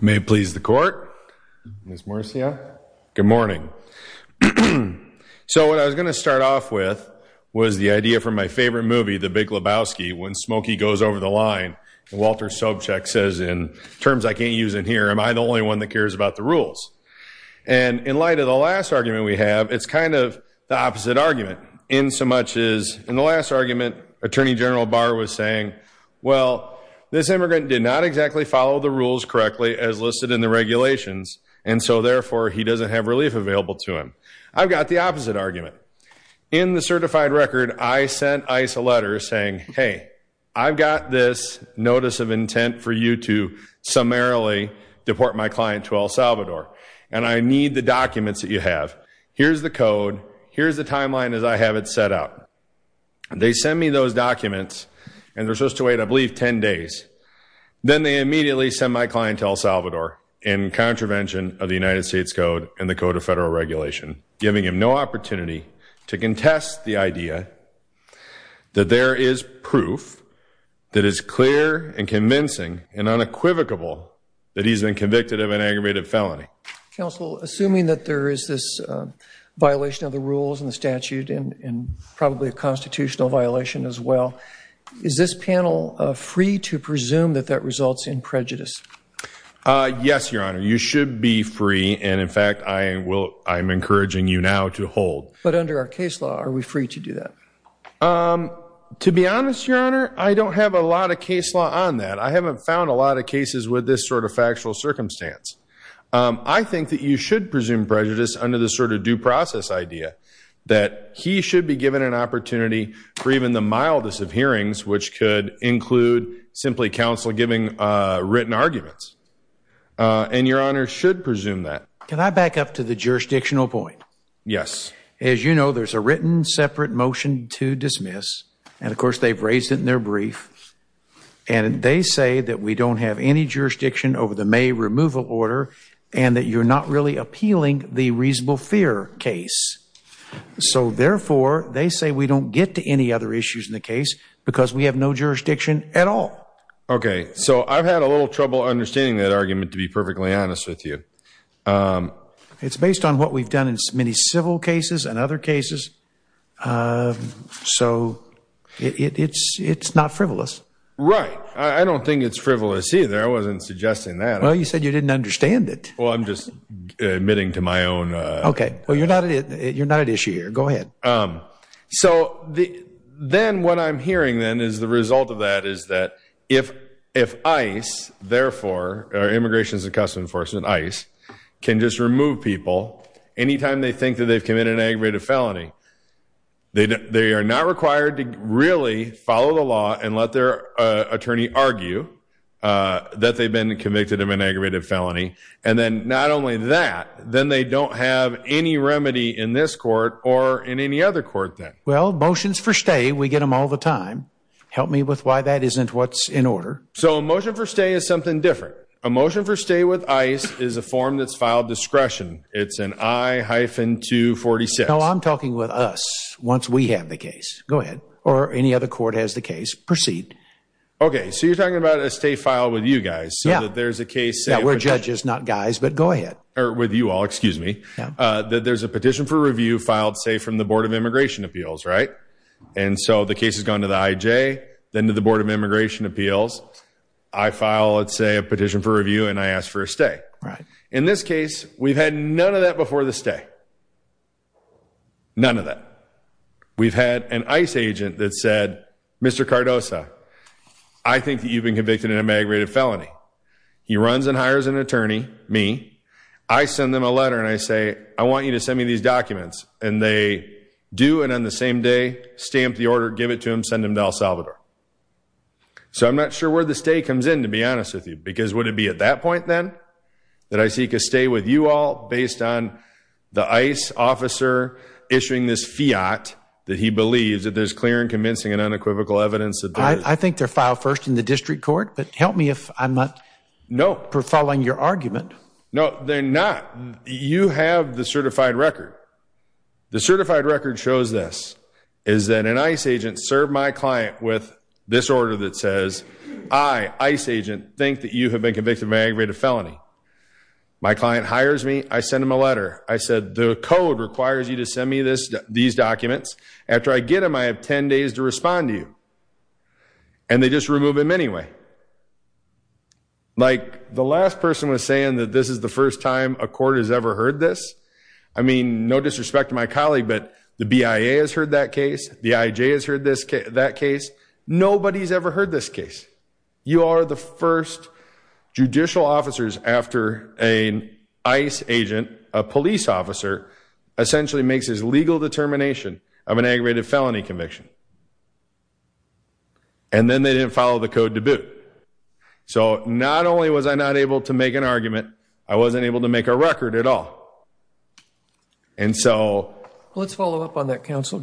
May it please the court, Ms. Moricia, good morning. So what I was going to start off with was the idea from my favorite movie, The Big Lebowski, when Smokey goes over the line and Walter Sobchak says in terms I can't use in here, am I the only one that cares about the rules? And in light of the last argument we have, it's kind of the opposite argument in so much as in the last argument Attorney General Barr was saying, well, this immigrant did not exactly follow the rules correctly as listed in the regulations and so therefore he doesn't have relief available to him. I've got the opposite argument. In the certified record I sent ICE a letter saying, hey, I've got this notice of intent for you to summarily deport my client to El Salvador and I need the documents that you have. Here's the code, here's the timeline as I have it set up. They send me those documents and they're supposed to wait, I believe, ten days. Then they immediately send my client to El Salvador in contravention of the United States Code and the Code of Federal Regulation, giving him no opportunity to contest the idea that there is proof that is clear and convincing and unequivocable that he's been convicted of an aggravated felony. Counsel, assuming that there is this violation of the rules and the statute and probably a constitutional violation as well, is this panel free to presume that that results in prejudice? Yes, Your Honor. You should be free and in fact I'm encouraging you now to hold. But under our case law are we free to do that? To be honest, Your Honor, I don't have a lot of case law on that. I haven't found a lot of cases with this sort of factual circumstance. I think that you should presume prejudice under the sort of due process idea that he should be given an opportunity for even the mildest of hearings, which could include simply counsel giving written arguments. And Your Honor should presume that. Can I back up to the jurisdictional point? Yes. As you know, there's a written separate motion to dismiss and of course they've raised it in their brief. And they say that we don't have any jurisdiction over the May removal order and that you're not really appealing the reasonable fear case. So therefore they say we don't get to any other issues in the case because we have no jurisdiction at all. Okay. So I've had a little trouble understanding that argument to be perfectly honest with you. It's based on what we've done in many civil cases and other cases. So it's not frivolous. Right. I don't think it's frivolous either. I wasn't suggesting that. Well, you said you didn't understand it. Well, I'm just admitting to my own. Okay. Well, you're not at issue here. Go ahead. So then what I'm hearing then is the result of that is that if ICE, therefore, Immigration and Customs Enforcement, ICE, can just remove people anytime they think that they've committed an aggravated felony, they are not required to really follow the law and let their attorney argue that they've been convicted of an aggravated felony. And then not only that, then they don't have any remedy in this court or in any other court then. Well, motions for stay, we get them all the time. Help me with why that isn't what's in order. So a motion for stay is something different. A motion for stay with ICE is a form that's filed discretion. It's an I-246. No, I'm talking with us once we have the case. Go ahead. Or any other court has the case. Proceed. Okay. So you're talking about a stay filed with you guys so that there's a case... Yeah, we're judges, not guys, but go ahead. Or with you all, excuse me. There's a petition for review filed, say, from the Board of Immigration Appeals, right? And so the case has gone to the IJ, then to the Board of Immigration Appeals. I file, let's say, a petition for review and I ask for a stay. In this case, we've had none of that before the stay. None of that. We've had an ICE agent that said, Mr. Cardoza, I think that you've been convicted in a migrated felony. He runs and hires an attorney, me. I send them a letter and I say, I want you to send me these documents. And they do, and on the same day, stamp the order, give it to him, send him to El Salvador. So I'm not sure where the stay comes in, to be honest with you, because would it be at that point, then, that I seek a stay with you all based on the ICE officer issuing this fiat that he believes that there's clear and convincing and unequivocal evidence that there is? I think they're filed first in the district court, but help me if I'm not... No. ...for following your argument. No, they're not. You have the certified record. The certified record shows this, is that an ICE agent served my client with this order that says, I, ICE agent, think that you have been convicted of a migrated felony. My client hires me, I send him a letter. I said, the code requires you to send me these documents. After I get them, I have 10 days to respond to you. And they just remove him anyway. Like the last person was saying that this is the first time a court has ever heard this. I mean, no disrespect to my colleague, but the BIA has heard that case. The IJ has heard that case. Nobody's ever heard this case. You are the first judicial officers after an ICE agent, a police officer, essentially makes his legal determination of an aggravated felony conviction. And then they didn't follow the code to boot. So not only was I not able to make an argument, I wasn't able to make a record at all. And so... Let's follow up on that, counsel.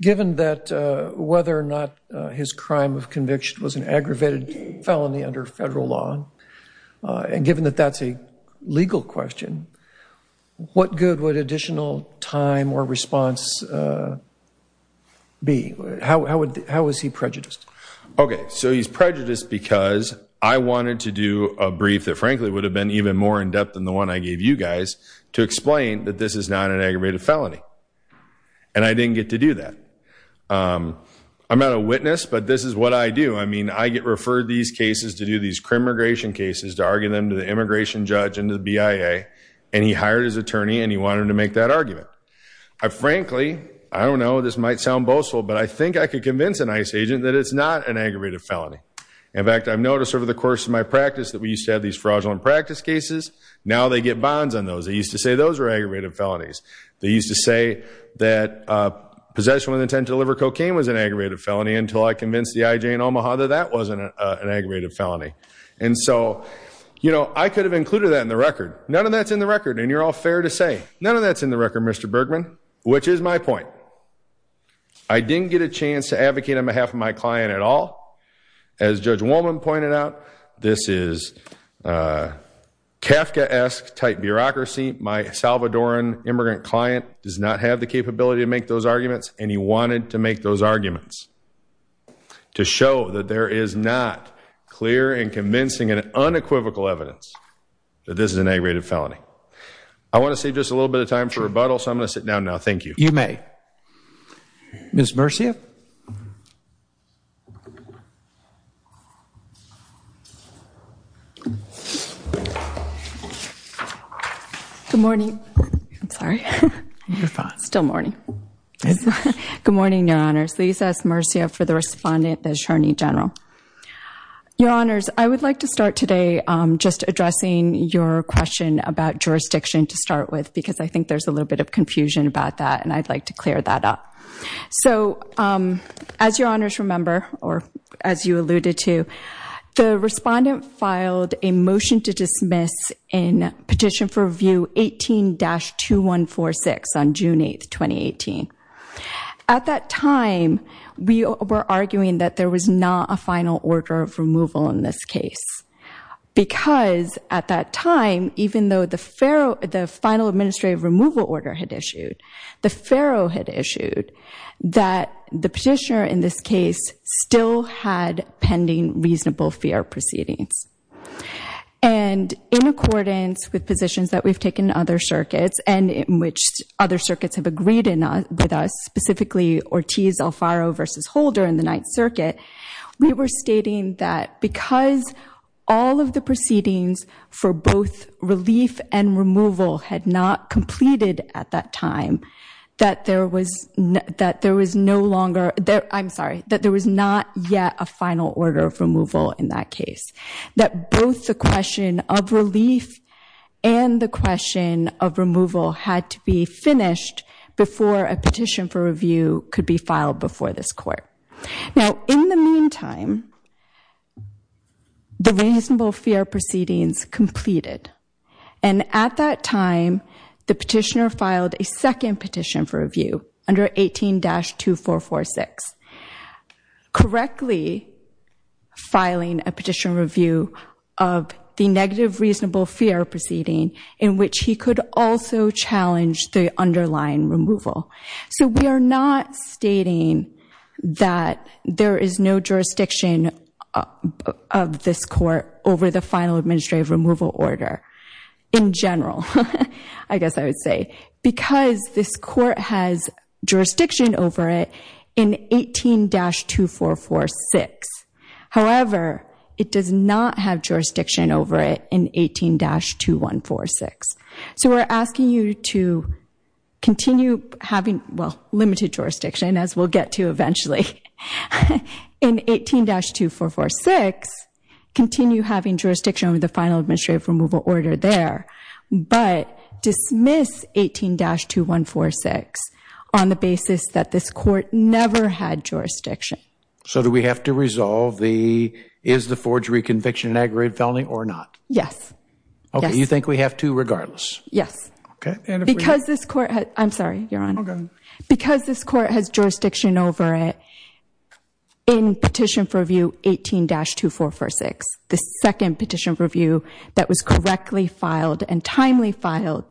Given that whether or not his crime of conviction was an aggravated felony under federal law, and given that that's a legal question, what good would additional time or response be? How was he prejudiced? Okay. So he's prejudiced because I wanted to do a brief that frankly would have been even more in depth than the one I gave you guys to explain that this is not an aggravated felony. And I didn't get to do that. I'm not a witness, but this is what I do. I mean, I get referred these cases to do these crim immigration cases to argue them to the immigration judge and the BIA. And he hired his attorney and he wanted to make that argument. I frankly, I don't know, this might sound boastful, but I think I could convince an ICE agent that it's not an aggravated felony. In fact, I've noticed over the course of my practice that we used to have these fraudulent practice cases. Now they get bonds on those. They used to say those were aggravated felonies. They used to say that possession with intent to deliver cocaine was an aggravated felony until I convinced the IJ in Omaha that that wasn't an aggravated felony. And so, you know, I could have included that in the record. None of that's in the record and you're all fair to say. None of that's in the record, Mr. Bergman, which is my point. I didn't get a chance to advocate on behalf of my client at all. As Judge Woolman pointed out, this is a Kafka-esque type bureaucracy. My Salvadoran immigrant client does not have the capability to make those arguments and he wanted to make those arguments to show that there is not clear and convincing and unequivocal evidence that this is an aggravated felony. I want to save just a little bit of time for rebuttal, so I'm going to sit down now. Thank you. You may. Ms. Murcia? Good morning. I'm sorry. You're fine. It's still morning. Good morning, Your Honors. Lisa S. Murcia for the Respondent, the Attorney General. Your Honors, I would like to start today just addressing your question about jurisdiction to start with because I think there's a little bit of confusion about that and I'd like to clear that up. As Your Honors remember, or as you alluded to, the Respondent filed a motion to dismiss in Petition for Review 18-2146 on June 8, 2018. At that time, we were arguing that there was not a final order of removal in this case because at that time, the Petitioner, in this case, still had pending reasonable fair proceedings. And in accordance with positions that we've taken in other circuits and in which other circuits have agreed with us, specifically Ortiz-Alfaro v. Holder in the Ninth Circuit, we were stating that because all of the proceedings for both relief and removal had not completed at that time, that there was no longer, I'm sorry, that there was not yet a final order of removal in that case. That both the question of relief and the question of removal had to be finished before a Petition for Review could be filed before this Court. Now, in the meantime, the second Petition for Review under 18-2446, correctly filing a Petition for Review of the negative reasonable fair proceeding in which he could also challenge the underlying removal. So we are not stating that there is no jurisdiction of this Court over the because this Court has jurisdiction over it in 18-2446. However, it does not have jurisdiction over it in 18-2146. So we're asking you to continue having, well, limited jurisdiction as we'll get to eventually, in 18-2446, continue having jurisdiction over the final administrative removal order there, but dismiss 18-2146 on the basis that this Court never had jurisdiction. So do we have to resolve the, is the forgery conviction an aggravated felony or not? Yes. Okay, you think we have to regardless? Yes. Because this Court, I'm sorry, you're on. Because this Court has jurisdiction over it in Petition for Review 18-2446, the second Petition for Review is correctly filed and timely filed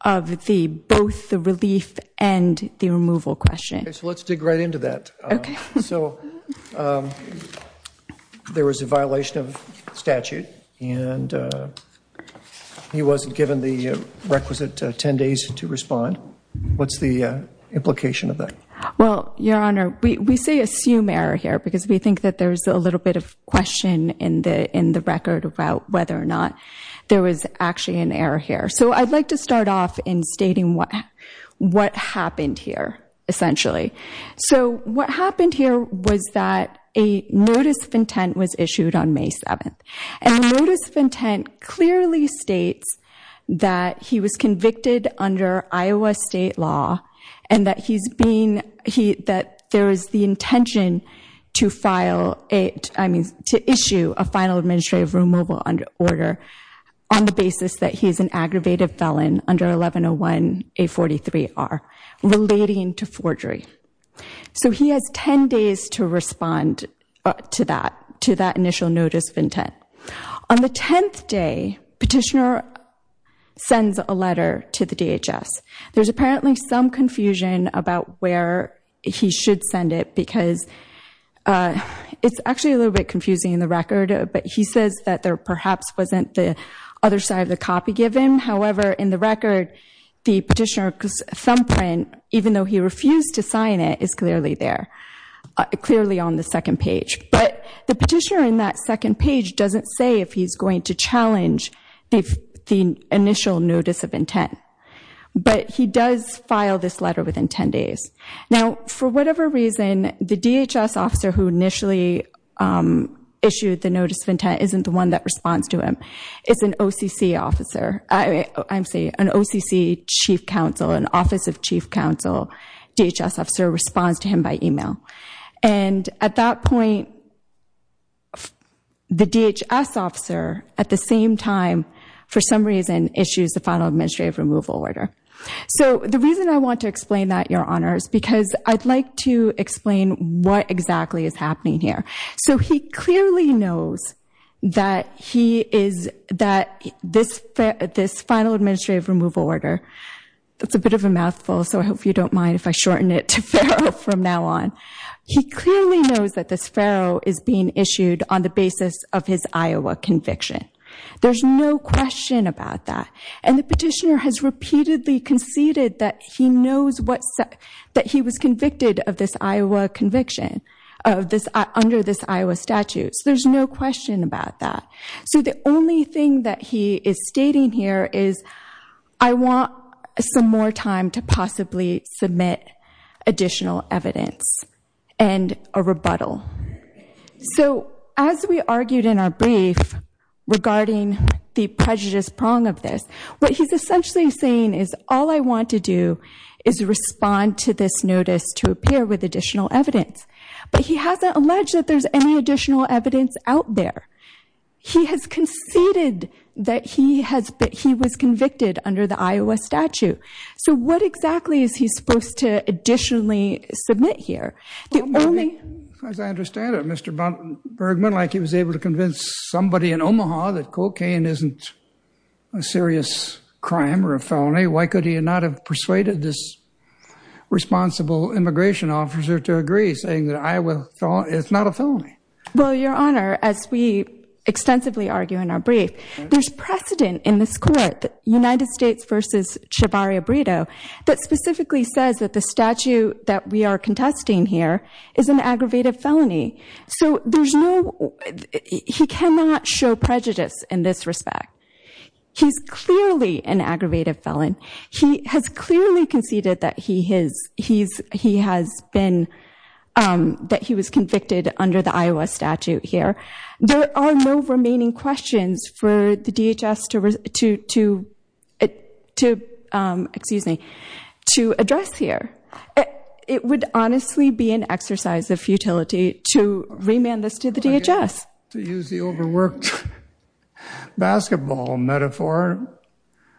of the, both the relief and the removal question. Okay, so let's dig right into that. Okay. So there was a violation of statute and he wasn't given the requisite 10 days to respond. What's the implication of that? Well, Your Honor, we say assume error here because we think that there's a little bit of question in the record about whether or not there was actually an error here. So I'd like to start off in stating what happened here, essentially. So what happened here was that a notice of intent was issued on May 7th. And the notice of intent clearly states that he was convicted under Iowa State law and that he's being, that there is the intention to file a, I mean, to issue a final administrative removal order on the basis that he's an aggravated felon under 1101A43R relating to forgery. So he has 10 days to respond to that, to that initial notice of intent. On the 10th day, Petitioner sends a letter to the DHS. There's a, it's actually a little bit confusing in the record, but he says that there perhaps wasn't the other side of the copy given. However, in the record, the petitioner's thumbprint, even though he refused to sign it, is clearly there, clearly on the second page. But the petitioner in that second page doesn't say if he's going to challenge the initial notice of intent. But he does file this letter within 10 days. Now, for whatever reason, the DHS officer who initially issued the notice of intent isn't the one that responds to him. It's an OCC officer. I'm sorry, an OCC chief counsel, an office of chief counsel, DHS officer responds to him by email. And at that point, the DHS officer, at the same time, for some reason, issues the final administrative removal order. So the reason I want to explain that, Your Honor, is because I'd like to explain what exactly is happening here. So he clearly knows that he is, that this, this final administrative removal order, that's a bit of a mouthful, so I hope you don't mind if I shorten it to Farrow from now on. He clearly knows that this Farrow is being issued on the basis of his Iowa conviction. There's no question about that. And the petitioner has repeatedly conceded that he knows what, that he was convicted of this Iowa conviction, of this, under this Iowa statute. So there's no question about that. So the only thing that he is stating here is, I want some more time to possibly submit additional evidence and a rebuttal. So as we argued in our brief regarding the prejudice prong of this, what he's essentially saying is, all I want to do is respond to this notice to appear with additional evidence. But he hasn't alleged that there's any additional evidence out there. He has conceded that he has, that he was convicted under the Iowa statute. So what exactly is he supposed to additionally submit here? The only- As I understand it, Mr. Bergman, like he was able to convince somebody in Omaha that cocaine isn't a serious crime or a felony, why could he not have persuaded this responsible immigration officer to agree, saying that Iowa, it's not a felony? Well, Your Honor, as we extensively argue in our brief, there's precedent in this court, United States versus Chivarri-Abrito, that specifically says that the statute that we are contesting here is an aggravated felony. So there's no, he cannot show prejudice in this respect. He's clearly an aggravated felon. He has clearly conceded that he has been, that he was convicted under the Iowa statute here. There are no remaining questions for the DHS to address here. It would honestly be an exercise of futility to remand this to the DHS. To use the overworked basketball metaphor,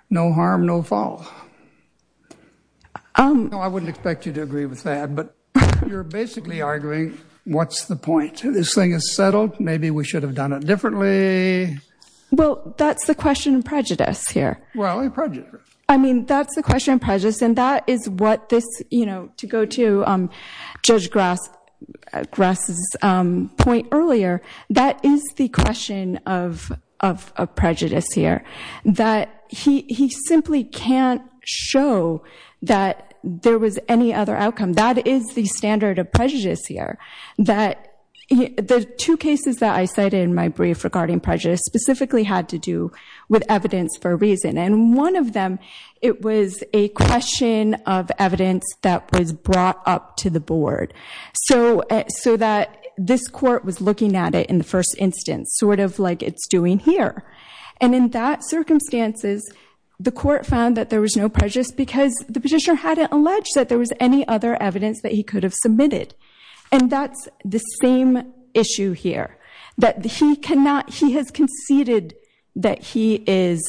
no harm, no fall. I wouldn't expect you to agree with that, but you're basically arguing, what's the point? This thing is settled. Maybe we should have done it differently. Well, that's the question of prejudice here. Well, prejudice. I mean, that's the question of prejudice. And that is what this, you know, to go to Judge Grass's point earlier, that is the question of prejudice here. That he simply can't show that there was any other outcome. That is the standard of prejudice here. That the two cases that I cited in my brief regarding prejudice specifically had to do with evidence for a reason. And one of them, it was a question of evidence that was brought up to the board. So that this court was looking at it in the first instance, sort of like it's doing here. And in that circumstances, the court found that there was no prejudice because the petitioner hadn't alleged that there was any other evidence that he could have submitted. And that's the that he is,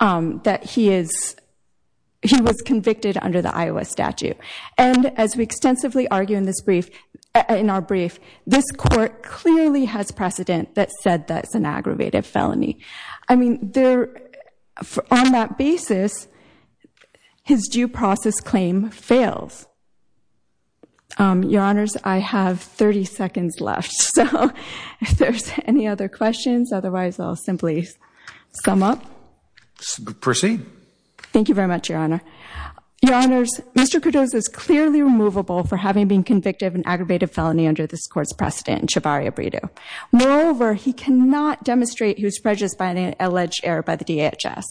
he was convicted under the Iowa statute. And as we extensively argue in this brief, in our brief, this court clearly has precedent that said that's an aggravated felony. I mean, on that basis, his due process claim fails. Your Honors, I have 30 seconds left. So if there's any other questions, otherwise I'll simply sum up. Proceed. Thank you very much, Your Honor. Your Honors, Mr. Cordoza is clearly removable for having been convicted of an aggravated felony under this court's precedent in Chivarria-Bredo. Moreover, he cannot demonstrate he was prejudiced by an alleged error by the DHS,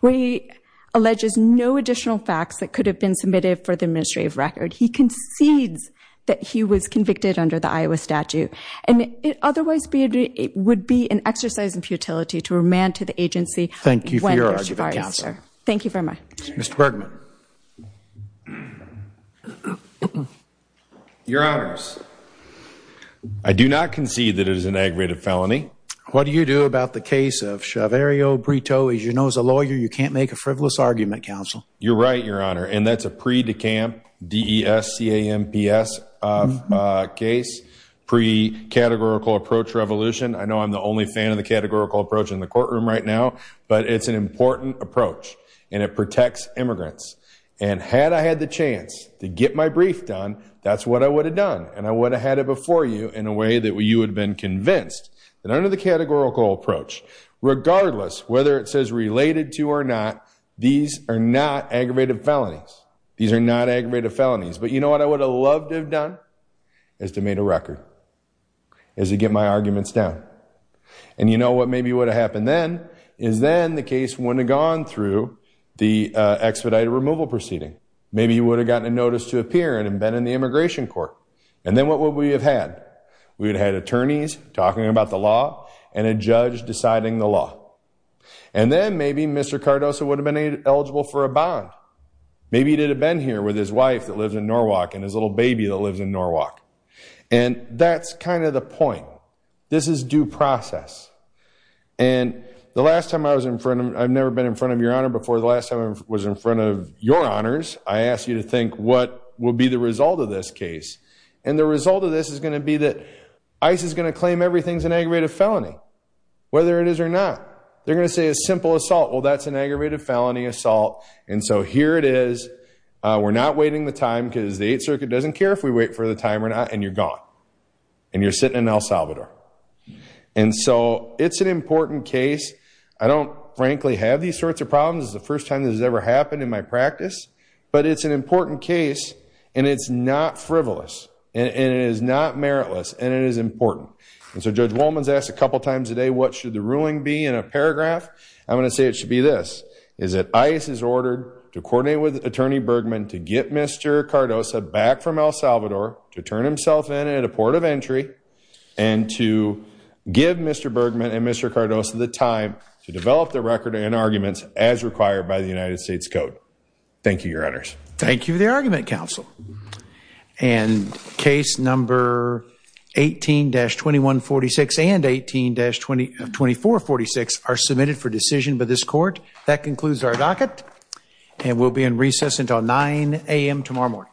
where he alleges no additional facts that could have been submitted for the administrative record. He concedes that he was convicted under the Iowa statute. And it otherwise would be an exercise in futility to remand to the agency. Thank you for your argument, Counselor. Thank you very much. Mr. Bergman. Your Honors, I do not concede that it is an aggravated felony. What do you do about the case of Chivarria-Bredo? As you know, as a lawyer, you can't make a frivolous argument, Counsel. You're right, Your Honor. And that's a pre-Dekamp, D-E-S-C-A-M-P-S case, pre-categorical approach revolution. I know I'm the only fan of the categorical approach in the courtroom right now, but it's an important approach and it protects immigrants. And had I had the chance to get my brief done, that's what I would have done. And I would have had it before you in a way that you would have been convinced that under the categorical approach, regardless whether it says related to or not, these are not aggravated felonies. These are not aggravated felonies. But you know what I would have loved to have done? Is to have made a record. Is to get my arguments down. And you know what maybe would have happened then? Is then the case wouldn't have gone through the expedited removal proceeding. Maybe you would have gotten a notice to appear and been in the immigration court. And then what would we have had? We would have had attorneys talking about the law and a judge deciding the law. And then maybe Mr. Cardoso would have been eligible for a bond. Maybe he did have been here with his wife that lives in Norwalk and his little baby that lives in Norwalk. And that's kind of the point. This is due process. And the last time I was in front of, I've never been in front of your honor before, the last time I was in front of your honors, I asked you to think what would be the result of this case. And the result of this is going to be that ICE is going to claim everything's an aggravated felony. Whether it is or not. They're going to say it's simple assault. Well that's an aggravated felony assault. And so here it is. We're not waiting the time because the Eighth Circuit doesn't care if we wait for the time or not. And you're gone. And you're sitting in El Salvador. And so it's an important case. I don't frankly have these sorts of problems. This is the first time this has ever happened in my practice. But it's an important case. And it's not frivolous. And it is not meritless. And it is important. And so Judge Wolman's asked a couple times today what should the ruling be in a paragraph. I'm going to say it should be this. Is that to get Mr. Cardoza back from El Salvador. To turn himself in at a port of entry. And to give Mr. Bergman and Mr. Cardoza the time to develop the record and arguments as required by the United States Code. Thank you your honors. Thank you the argument counsel. And case number 18-2146 and 18-2446 are submitted for decision by this court. That concludes our docket. And we'll be in recess until 9 a.m. tomorrow morning.